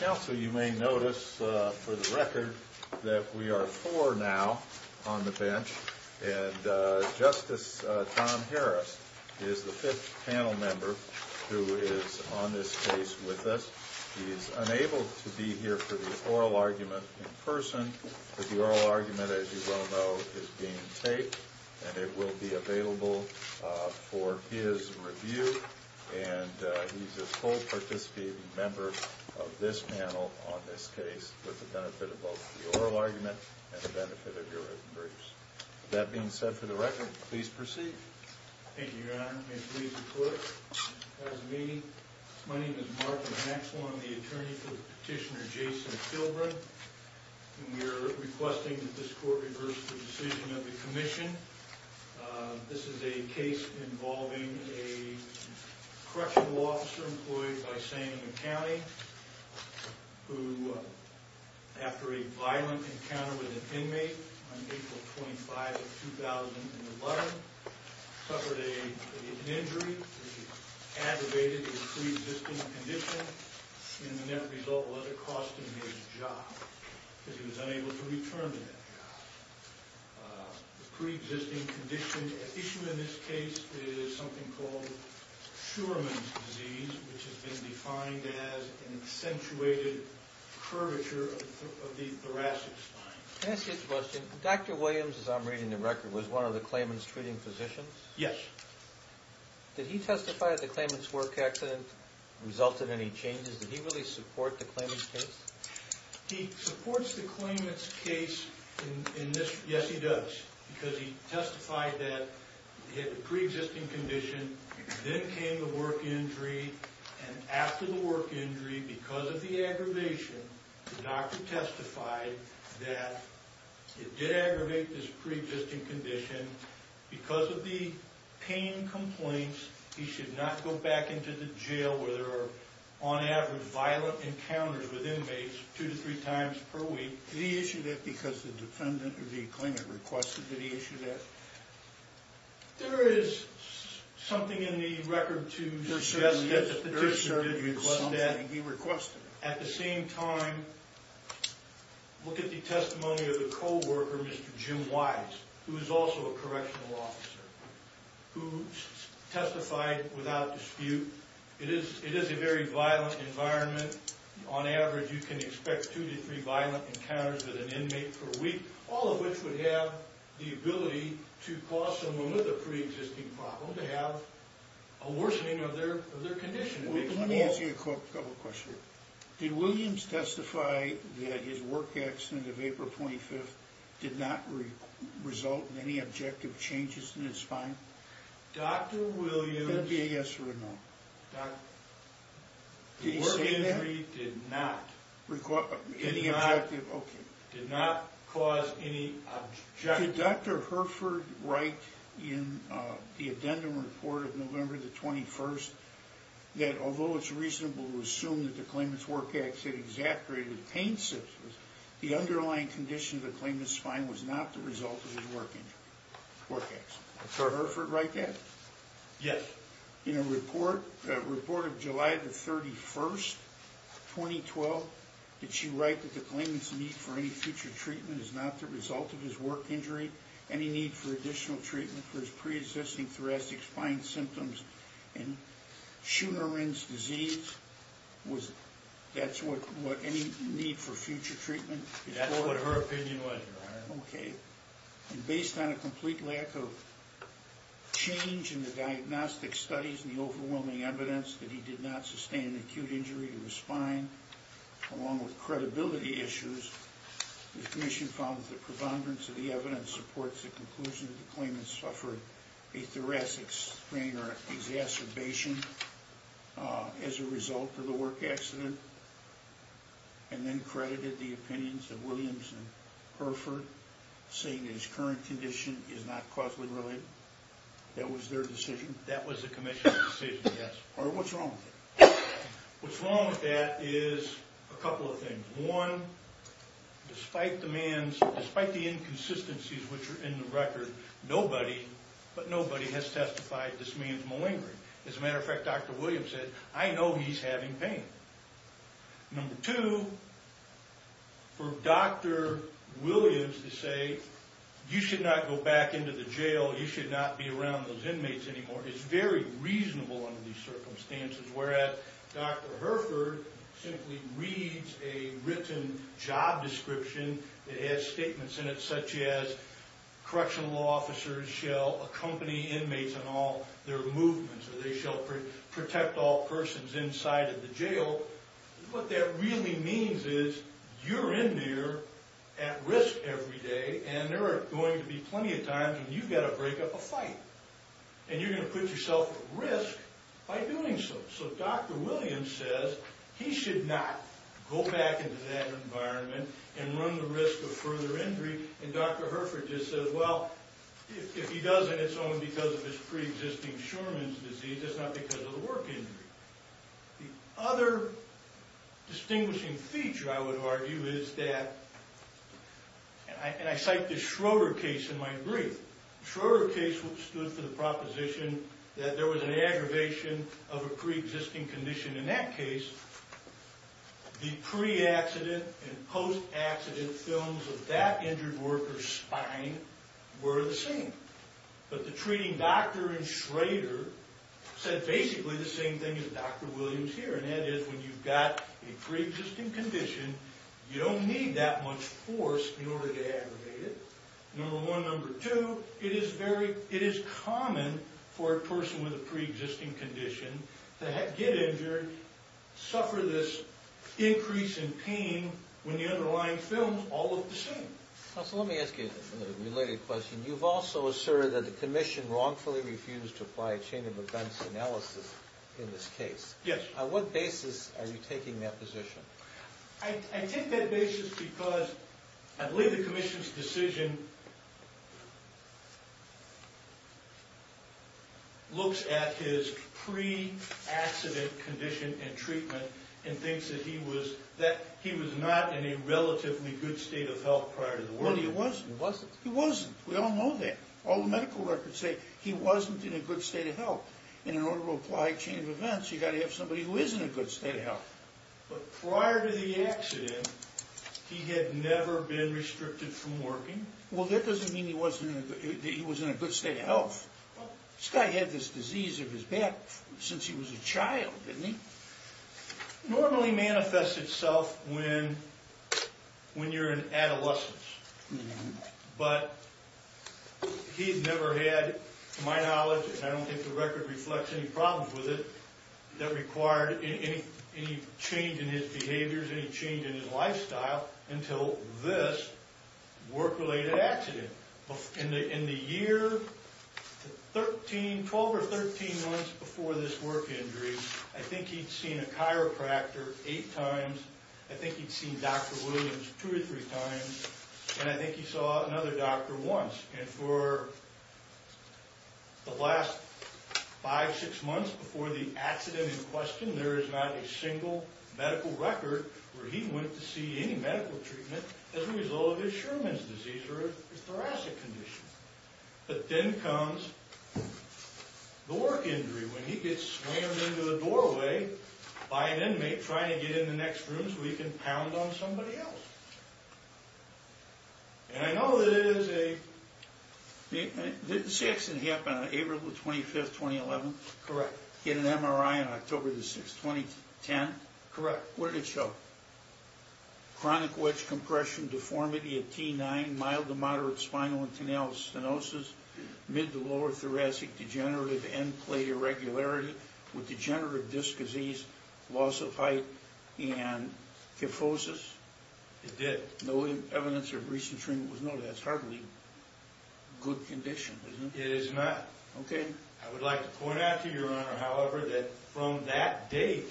Counsel, you may notice for the record that we are four now on the bench, and Justice Tom Harris is the fifth panel member who is on this case with us. He is unable to be here for the oral argument in person, but the oral argument, as you well know, is being taped, and it will be available for his review, and he's a full participating member of this panel on this case with the benefit of both the oral argument and the benefit of your written briefs. With that being said, for the record, please proceed. Thank you, Your Honor. May it please the Court, as am I. My name is Mark Maxwell. I'm the attorney for Petitioner Jason Kilbrun, and we are requesting that this Court reverse the decision of the Commission. This is a case involving a correctional officer employed by Santa Ana County who, after a violent encounter with an inmate on April 25, 2011, suffered an injury. He was aggravated with a pre-existing condition, and the net result was it cost him his job because he was unable to return to that job. The pre-existing issue in this case is something called Shurman's disease, which has been defined as an accentuated curvature of the thoracic spine. Can I ask you a question? Dr. Williams, as I'm reading the record, was one of the claimant's treating physicians? Yes. Did he testify that the claimant's work accident resulted in any changes? Did he really support the claimant's case? He supports the claimant's case in this – yes, he does, because he testified that he had a pre-existing condition. Then came the work injury, and after the work injury, because of the aggravation, the doctor testified that it did aggravate this pre-existing condition. Because of the pain complaints, he should not go back into the jail where there are, on average, violent encounters with inmates two to three times per week. Did he issue that because the defendant or the claimant requested that he issue that? There is something in the record to suggest that the petitioner did request that. There certainly is something he requested. At the same time, look at the testimony of the co-worker, Mr. Jim Wise, who is also a correctional officer, who testified without dispute. It is a very violent environment. On average, you can expect two to three violent encounters with an inmate per week, all of which would have the ability to cause someone with a pre-existing problem to have a worsening of their condition. Let me ask you a couple of questions. Did Williams testify that his work accident of April 25th did not result in any objective changes in his spine? Dr. Williams... That would be a yes or a no. The work injury did not cause any objective... Did Dr. Hereford write in the addendum report of November 21st that although it is reasonable to assume that the claimant's work accident exaggerated the pain symptoms, the underlying condition of the claimant's spine was not the result of his work accident? Did Dr. Hereford write that? Yes. In a report of July 31st, 2012, did she write that the claimant's need for any future treatment is not the result of his work injury? Any need for additional treatment for his pre-existing thoracic spine symptoms and Shunerin's disease? That's what any need for future treatment is for? That's what her opinion was, Your Honor. Okay. And based on a complete lack of change in the diagnostic studies and the overwhelming evidence that he did not sustain an acute injury to his spine, along with credibility issues, the commission found that the prevongerance of the evidence supports the conclusion that the claimant suffered a thoracic sprain or exacerbation as a result of the work accident, and then credited the opinions of Williams and Hereford, saying that his current condition is not causally related? That was their decision? That was the commission's decision, yes. What's wrong with it? What's wrong with that is a couple of things. One, despite the inconsistencies which are in the record, nobody, but nobody, has testified this man's malingering. As a matter of fact, Dr. Williams said, I know he's having pain. Number two, for Dr. Williams to say, you should not go back into the jail, you should not be around those inmates anymore, is very reasonable under these circumstances, whereas Dr. Hereford simply reads a written job description that has statements in it such as, correctional officers shall accompany inmates on all their movements, or they shall protect all persons inside of the jail. What that really means is, you're in there at risk every day, and there are going to be plenty of times when you've got to break up a fight. And you're going to put yourself at risk by doing so. So Dr. Williams says, he should not go back into that environment and run the risk of further injury, and Dr. Hereford just says, well, if he doesn't, it's only because of his pre-existing Shorman's disease, it's not because of the work injury. The other distinguishing feature, I would argue, is that, and I cite the Schroeder case in my brief. The Schroeder case stood for the proposition that there was an aggravation of a pre-existing condition. In that case, the pre-accident and post-accident films of that injured worker's spine were the same. But the treating doctor in Schroeder said basically the same thing as Dr. Williams here, and that is, when you've got a pre-existing condition, you don't need that much force in order to aggravate it. Number one, number two, it is common for a person with a pre-existing condition to get injured, suffer this increase in pain when the underlying film is all of the same. So let me ask you a related question. You've also asserted that the commission wrongfully refused to apply a chain of events analysis in this case. Yes. On what basis are you taking that position? I take that basis because I believe the commission's decision looks at his pre-accident condition and treatment and thinks that he was not in a relatively good state of health prior to the war. No, he wasn't. He wasn't? He wasn't. We all know that. All the medical records say he wasn't in a good state of health. And in order to apply a chain of events, you've got to have somebody who is in a good state of health. But prior to the accident, he had never been restricted from working. Well, that doesn't mean he was in a good state of health. This guy had this disease of his back since he was a child, didn't he? Normally manifests itself when you're in adolescence. But he's never had, to my knowledge, and I don't think the record reflects any problems with it, that required any change in his behaviors, any change in his lifestyle until this work-related accident. In the year 12 or 13 months before this work injury, I think he'd seen a chiropractor eight times. I think he'd seen Dr. Williams two or three times. And I think he saw another doctor once. And for the last five, six months before the accident in question, there is not a single medical record where he went to see any medical treatment as a result of his Sherman's disease or his thoracic condition. But then comes the work injury when he gets slammed into the doorway by an inmate trying to get in the next room so he can pound on somebody else. And I know that it is a... This accident happened on April 25, 2011? Correct. He had an MRI on October 6, 2010? Correct. What did it show? Chronic wedge compression, deformity of T9, mild to moderate spinal and canal stenosis, mid to lower thoracic degenerative end plate irregularity with degenerative disc disease, loss of height, and kyphosis? It did. No evidence of recent treatment was noted. That's hardly good condition, is it? It is not. I would like to point out to you, Your Honor, however, that from that date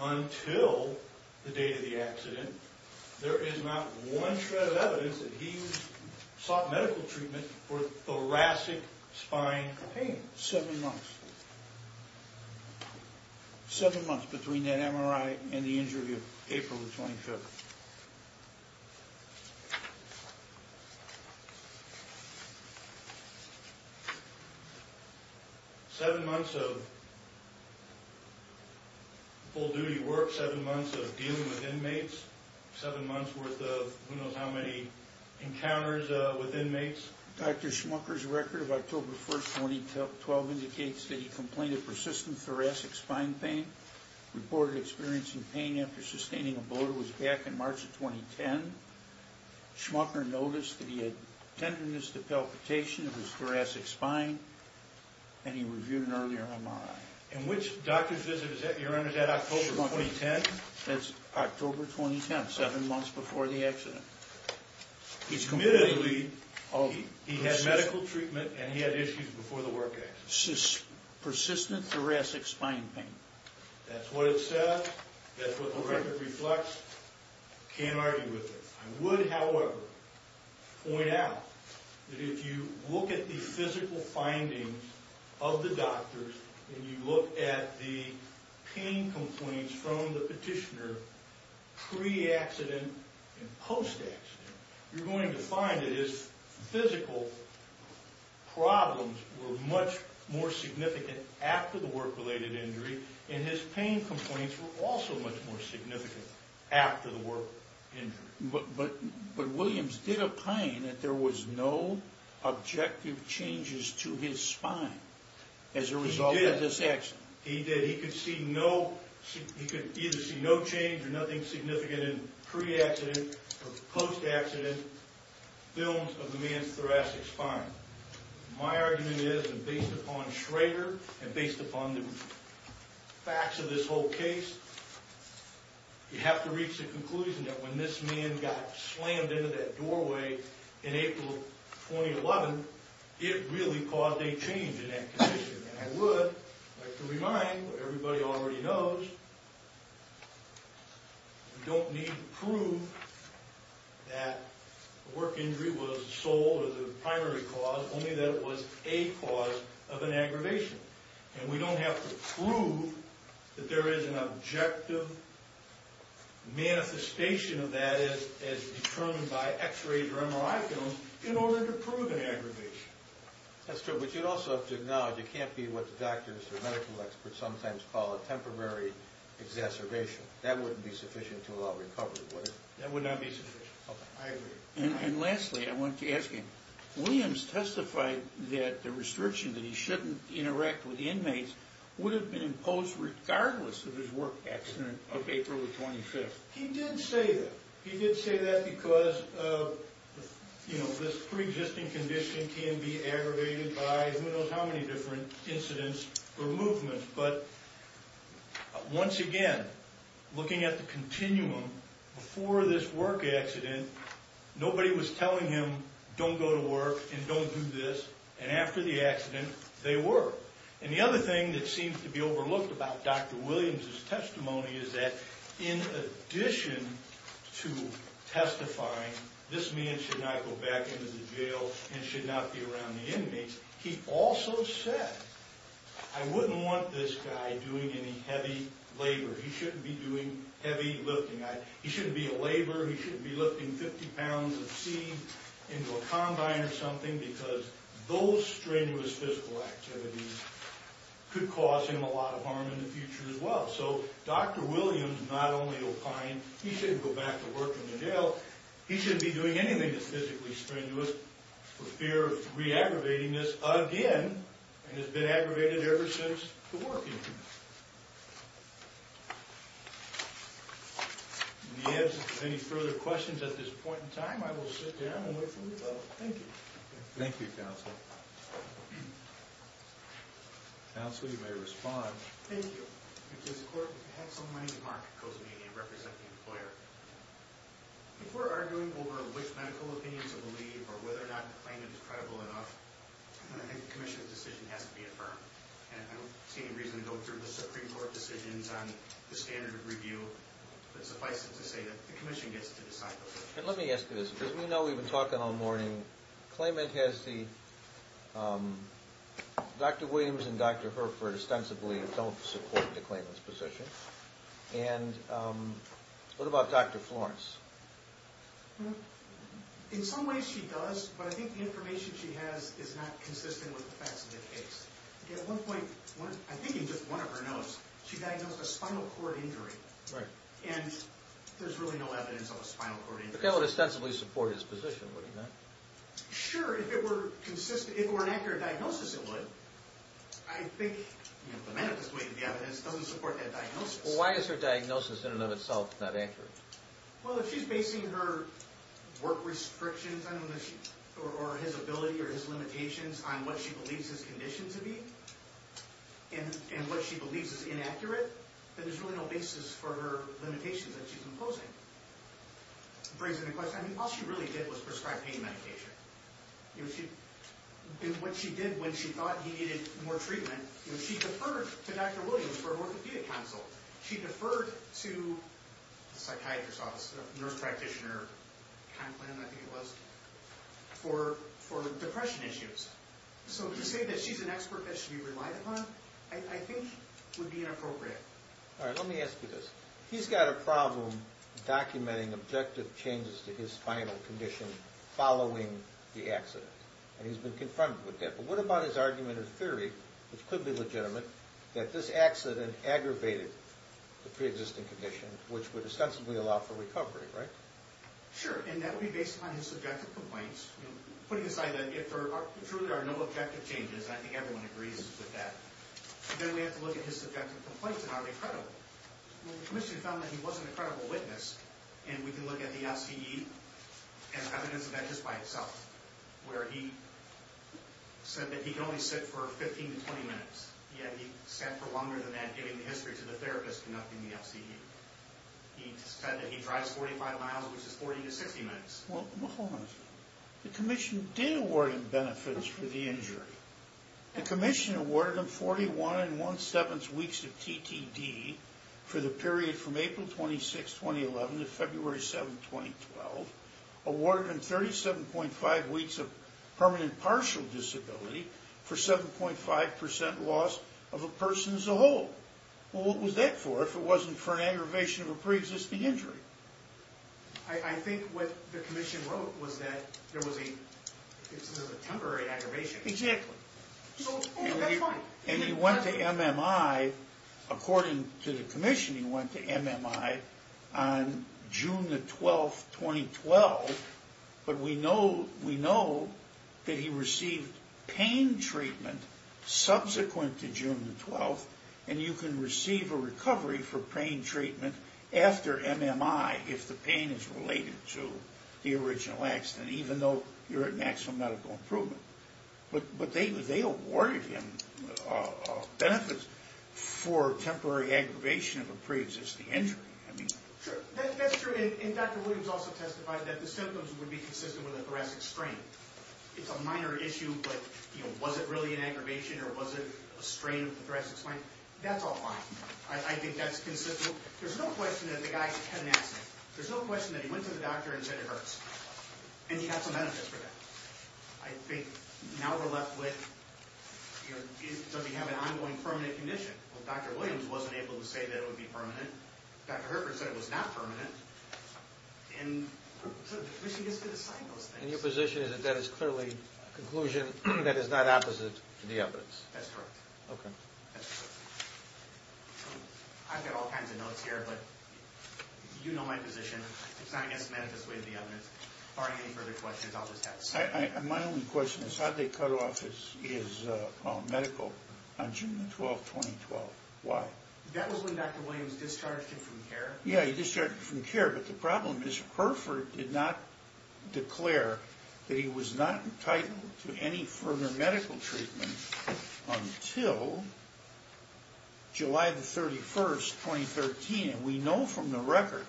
until the date of the accident, there is not one shred of evidence that he sought medical treatment for thoracic spine pain. Seven months. Seven months between that MRI and the injury on April 25. Seven months of full-duty work, seven months of dealing with inmates, seven months worth of who knows how many encounters with inmates. Dr. Schmucker's record of October 1, 2012 indicates that he complained of persistent thoracic spine pain, reported experiencing pain after sustaining a bloat. It was back in March of 2010. Schmucker noticed that he had tenderness to palpitation of his thoracic spine, and he reviewed an earlier MRI. And which doctor's visit was that, Your Honor? Was that October 2010? That's October 2010, seven months before the accident. Admittedly, he had medical treatment and he had issues before the work accident. Persistent thoracic spine pain. That's what it says. That's what the record reflects. Can't argue with it. I would, however, point out that if you look at the physical findings of the doctors and you look at the pain complaints from the petitioner pre-accident and post-accident, you're going to find that his physical problems were much more significant after the work-related injury, and his pain complaints were also much more significant after the work injury. But Williams did opine that there was no objective changes to his spine as a result of this accident. He did. He could see no change or nothing significant in pre-accident or post-accident films of the man's thoracic spine. My argument is, and based upon Schrader and based upon the facts of this whole case, you have to reach the conclusion that when this man got slammed into that doorway in April of 2011, it really caused a change in that condition. And I would like to remind what everybody already knows, you don't need to prove that the work injury was the sole or the primary cause, only that it was a cause of an aggravation. And we don't have to prove that there is an objective manifestation of that as determined by x-rays or MRI films in order to prove an aggravation. That's true. But you also have to acknowledge it can't be what the doctors or medical experts sometimes call a temporary exacerbation. That wouldn't be sufficient to allow recovery, would it? That would not be sufficient. I agree. And lastly, I want to ask you, Williams testified that the restriction that he shouldn't interact with inmates would have been imposed regardless of his work accident of April the 25th. He did say that. He did say that because, you know, this preexisting condition can be aggravated by who knows how many different incidents or movements. But once again, looking at the continuum, before this work accident, nobody was telling him, don't go to work and don't do this. And after the accident, they were. And the other thing that seems to be overlooked about Dr. Williams' testimony is that in addition to testifying, this man should not go back into the jail and should not be around the inmates, he also said, I wouldn't want this guy doing any heavy labor. He shouldn't be doing heavy lifting. He shouldn't be a laborer. He shouldn't be lifting 50 pounds of seed into a combine or something because those strenuous physical activities could cause him a lot of harm in the future as well. So, Dr. Williams not only opined he shouldn't go back to work in the jail, he shouldn't be doing anything that's physically strenuous for fear of re-aggravating this again and has been aggravated ever since the work incident. In the absence of any further questions at this point in time, I will sit down and wait for your vote. Thank you. Thank you, Counselor. Counselor, you may respond. Thank you. Because the court had some money to market Cozumelia and represent the employer. If we're arguing over which medical opinion to believe or whether or not the claimant is credible enough, I think the commission's decision has to be affirmed. I don't see any reason to go through the Supreme Court decisions on the standard of review, but suffice it to say that the commission gets to decide. Let me ask you this. Because we know we've been talking all morning, the claimant has the Dr. Williams and Dr. Hereford ostensibly don't support the claimant's position. And what about Dr. Florence? In some ways she does, but I think the information she has is not consistent with the facts of the case. At one point, I think in just one of her notes, she diagnosed a spinal cord injury. Right. And there's really no evidence of a spinal cord injury. But if that would ostensibly support his position, would it not? Sure. If it were an accurate diagnosis, it would. I think the evidence doesn't support that diagnosis. Why is her diagnosis in and of itself not accurate? Well, if she's basing her work restrictions or his ability or his limitations on what she believes his condition to be and what she believes is inaccurate, then there's really no basis for her limitations that she's imposing. All she really did was prescribe pain medication. What she did when she thought he needed more treatment, she deferred to Dr. Williams for orthopedic counsel. She deferred to the psychiatrist's office, the nurse practitioner kind of plan I think it was, for depression issues. So to say that she's an expert that should be relied upon, I think would be inappropriate. All right. Let me ask you this. He's got a problem documenting objective changes to his spinal condition following the accident, and he's been confronted with that. But what about his argument or theory, which could be legitimate, that this accident aggravated the preexisting condition, which would ostensibly allow for recovery, right? Sure. And that would be based upon his subjective complaints, putting aside that if there truly are no objective changes, I think everyone agrees with that. Then we have to look at his subjective complaints, and are they credible? Well, the commission found that he was an incredible witness, and we can look at the FCE and evidence of that just by itself, where he said that he could only sit for 15 to 20 minutes, yet he sat for longer than that, giving the history to the therapist conducting the FCE. He said that he drives 45 miles, which is 40 to 60 minutes. Well, hold on a second. The commission did award him benefits for the injury. The commission awarded him 41 1 7 weeks of TTD for the period from April 26, 2011, to February 7, 2012, awarded him 37.5 weeks of permanent partial disability for 7.5% loss of a person as a whole. Well, what was that for if it wasn't for an aggravation of a preexisting injury? I think what the commission wrote was that there was a temporary aggravation. Exactly. And he went to MMI. According to the commission, he went to MMI on June 12, 2012, but we know that he received pain treatment subsequent to June 12, and you can receive a recovery for pain treatment after MMI if the pain is related to the original accident, even though you're at maximum medical improvement. But they awarded him benefits for temporary aggravation of a preexisting injury. That's true, and Dr. Williams also testified that the symptoms would be consistent with a thoracic strain. It's a minor issue, but was it really an aggravation or was it a strain of the thoracic spine? That's all fine. I think that's consistent. There's no question that the guy had an accident. There's no question that he went to the doctor and said it hurts, and he got some benefits for that. I think now we're left with does he have an ongoing permanent condition? Well, Dr. Williams wasn't able to say that it would be permanent. Dr. Herford said it was not permanent, and so the commission gets to decide those things. And your position is that that is clearly a conclusion that is not opposite to the evidence? That's correct. Okay. That's correct. I've got all kinds of notes here, but you know my position. It's not, I guess, manifestly the evidence. If there are any further questions, I'll just ask. My only question is how did they cut off his medical on June 12, 2012? Why? That was when Dr. Williams discharged him from care. Yeah, he discharged him from care, but the problem is Herford did not declare that he was not entitled to any further medical treatment until July 31, 2013. And we know from the record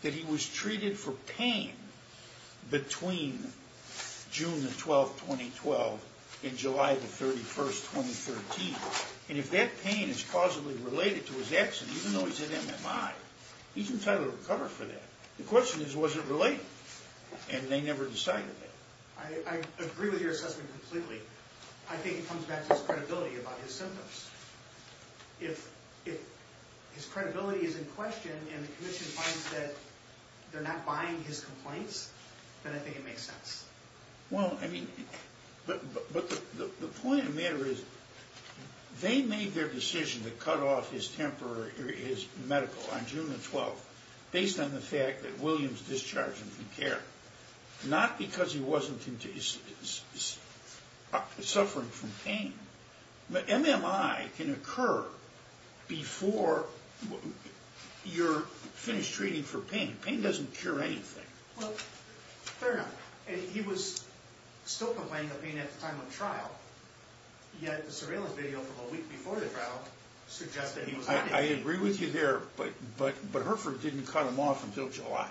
that he was treated for pain between June 12, 2012 and July 31, 2013. And if that pain is causally related to his accident, even though he's at MMI, he's entitled to recover for that. The question is, was it related? And they never decided that. I agree with your assessment completely. I think it comes back to his credibility about his symptoms. If his credibility is in question and the commission finds that they're not buying his complaints, then I think it makes sense. Well, I mean, but the point of the matter is they made their decision to cut off his medical on June 12, based on the fact that Williams discharged him from care, not because he wasn't suffering from pain. MMI can occur before you're finished treating for pain. Pain doesn't cure anything. Well, fair enough. He was still complaining of pain at the time of trial, yet the surveillance video from a week before the trial suggests that he was not in pain. I agree with you there, but Herford didn't cut him off until July.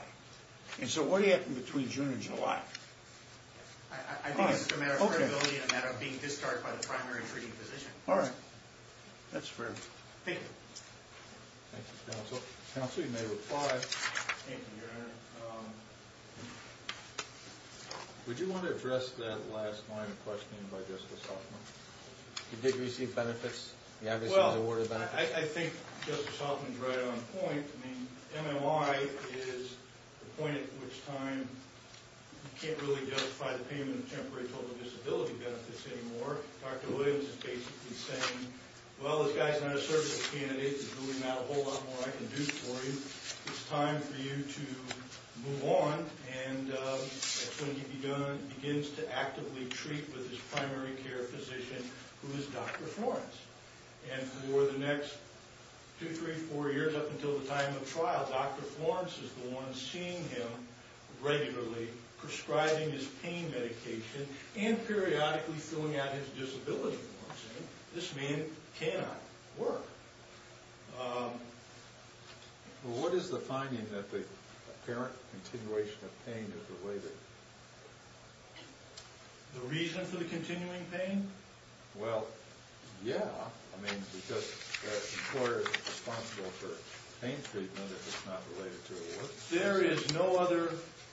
And so what happened between June and July? I think it's just a matter of credibility and a matter of being discharged by the primary treating physician. All right. That's fair. Thank you. Thank you, counsel. Counsel, you may reply. Thank you, Your Honor. All right. Would you want to address that last line of questioning by Justice Hoffman? He did receive benefits. He obviously was awarded benefits. Well, I think Justice Hoffman is right on point. I mean, MMI is the point at which time you can't really justify the payment of temporary total disability benefits anymore. Dr. Williams is basically saying, well, this guy's not a service candidate. There's really not a whole lot more I can do for you. It's time for you to move on. And that's when he begins to actively treat with his primary care physician, who is Dr. Florence. And for the next two, three, four years, up until the time of trial, Dr. Florence is the one seeing him regularly, prescribing his pain medication, and periodically filling out his disability form, saying this man cannot work. Well, what is the finding that the apparent continuation of pain is related? The reason for the continuing pain? Well, yeah. I mean, because the employer is responsible for pain treatment, if it's not related to the work. There is no other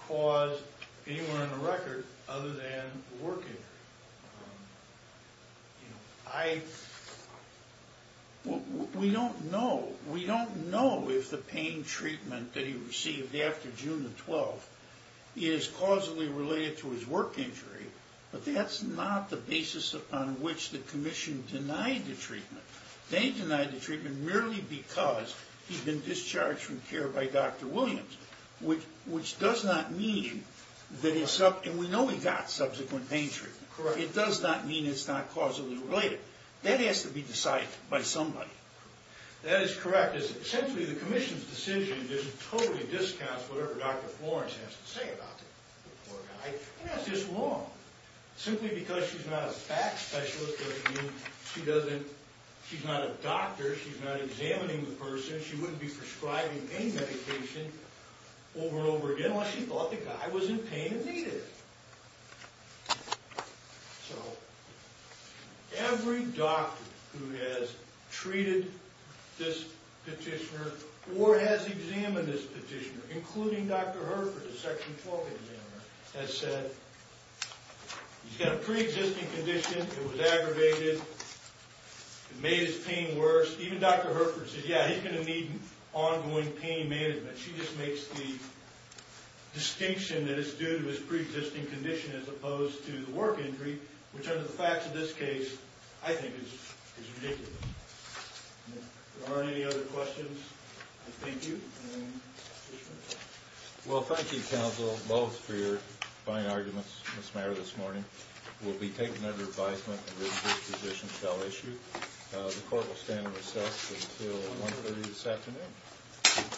cause anywhere in the record other than the work injury. We don't know. We don't know if the pain treatment that he received after June the 12th is causally related to his work injury, but that's not the basis upon which the commission denied the treatment. They denied the treatment merely because he'd been discharged from care by Dr. Williams, which does not mean that it's up, and we know he got subsequent pain treatment. Correct. It does not mean it's not causally related. That has to be decided by somebody. That is correct. Essentially, the commission's decision just totally discounts whatever Dr. Florence has to say about the poor guy, and that's just wrong. Simply because she's not a fact specialist doesn't mean she doesn't, she's not a doctor, she's not examining the person, she wouldn't be prescribing pain medication over and over again unless she thought the guy was in pain and needed it. So every doctor who has treated this petitioner or has examined this petitioner, including Dr. Herford, the Section 12 examiner, has said he's got a preexisting condition, it was aggravated, it made his pain worse. Even Dr. Herford says, yeah, he's going to need ongoing pain management. She just makes the distinction that it's due to his preexisting condition as opposed to the work injury, which under the facts of this case, I think is ridiculous. If there aren't any other questions, I thank you. Well, thank you, counsel, both, for your fine arguments this morning. We'll be taking under advisement that this position shall issue. The court will stand recess until 1.30 this afternoon.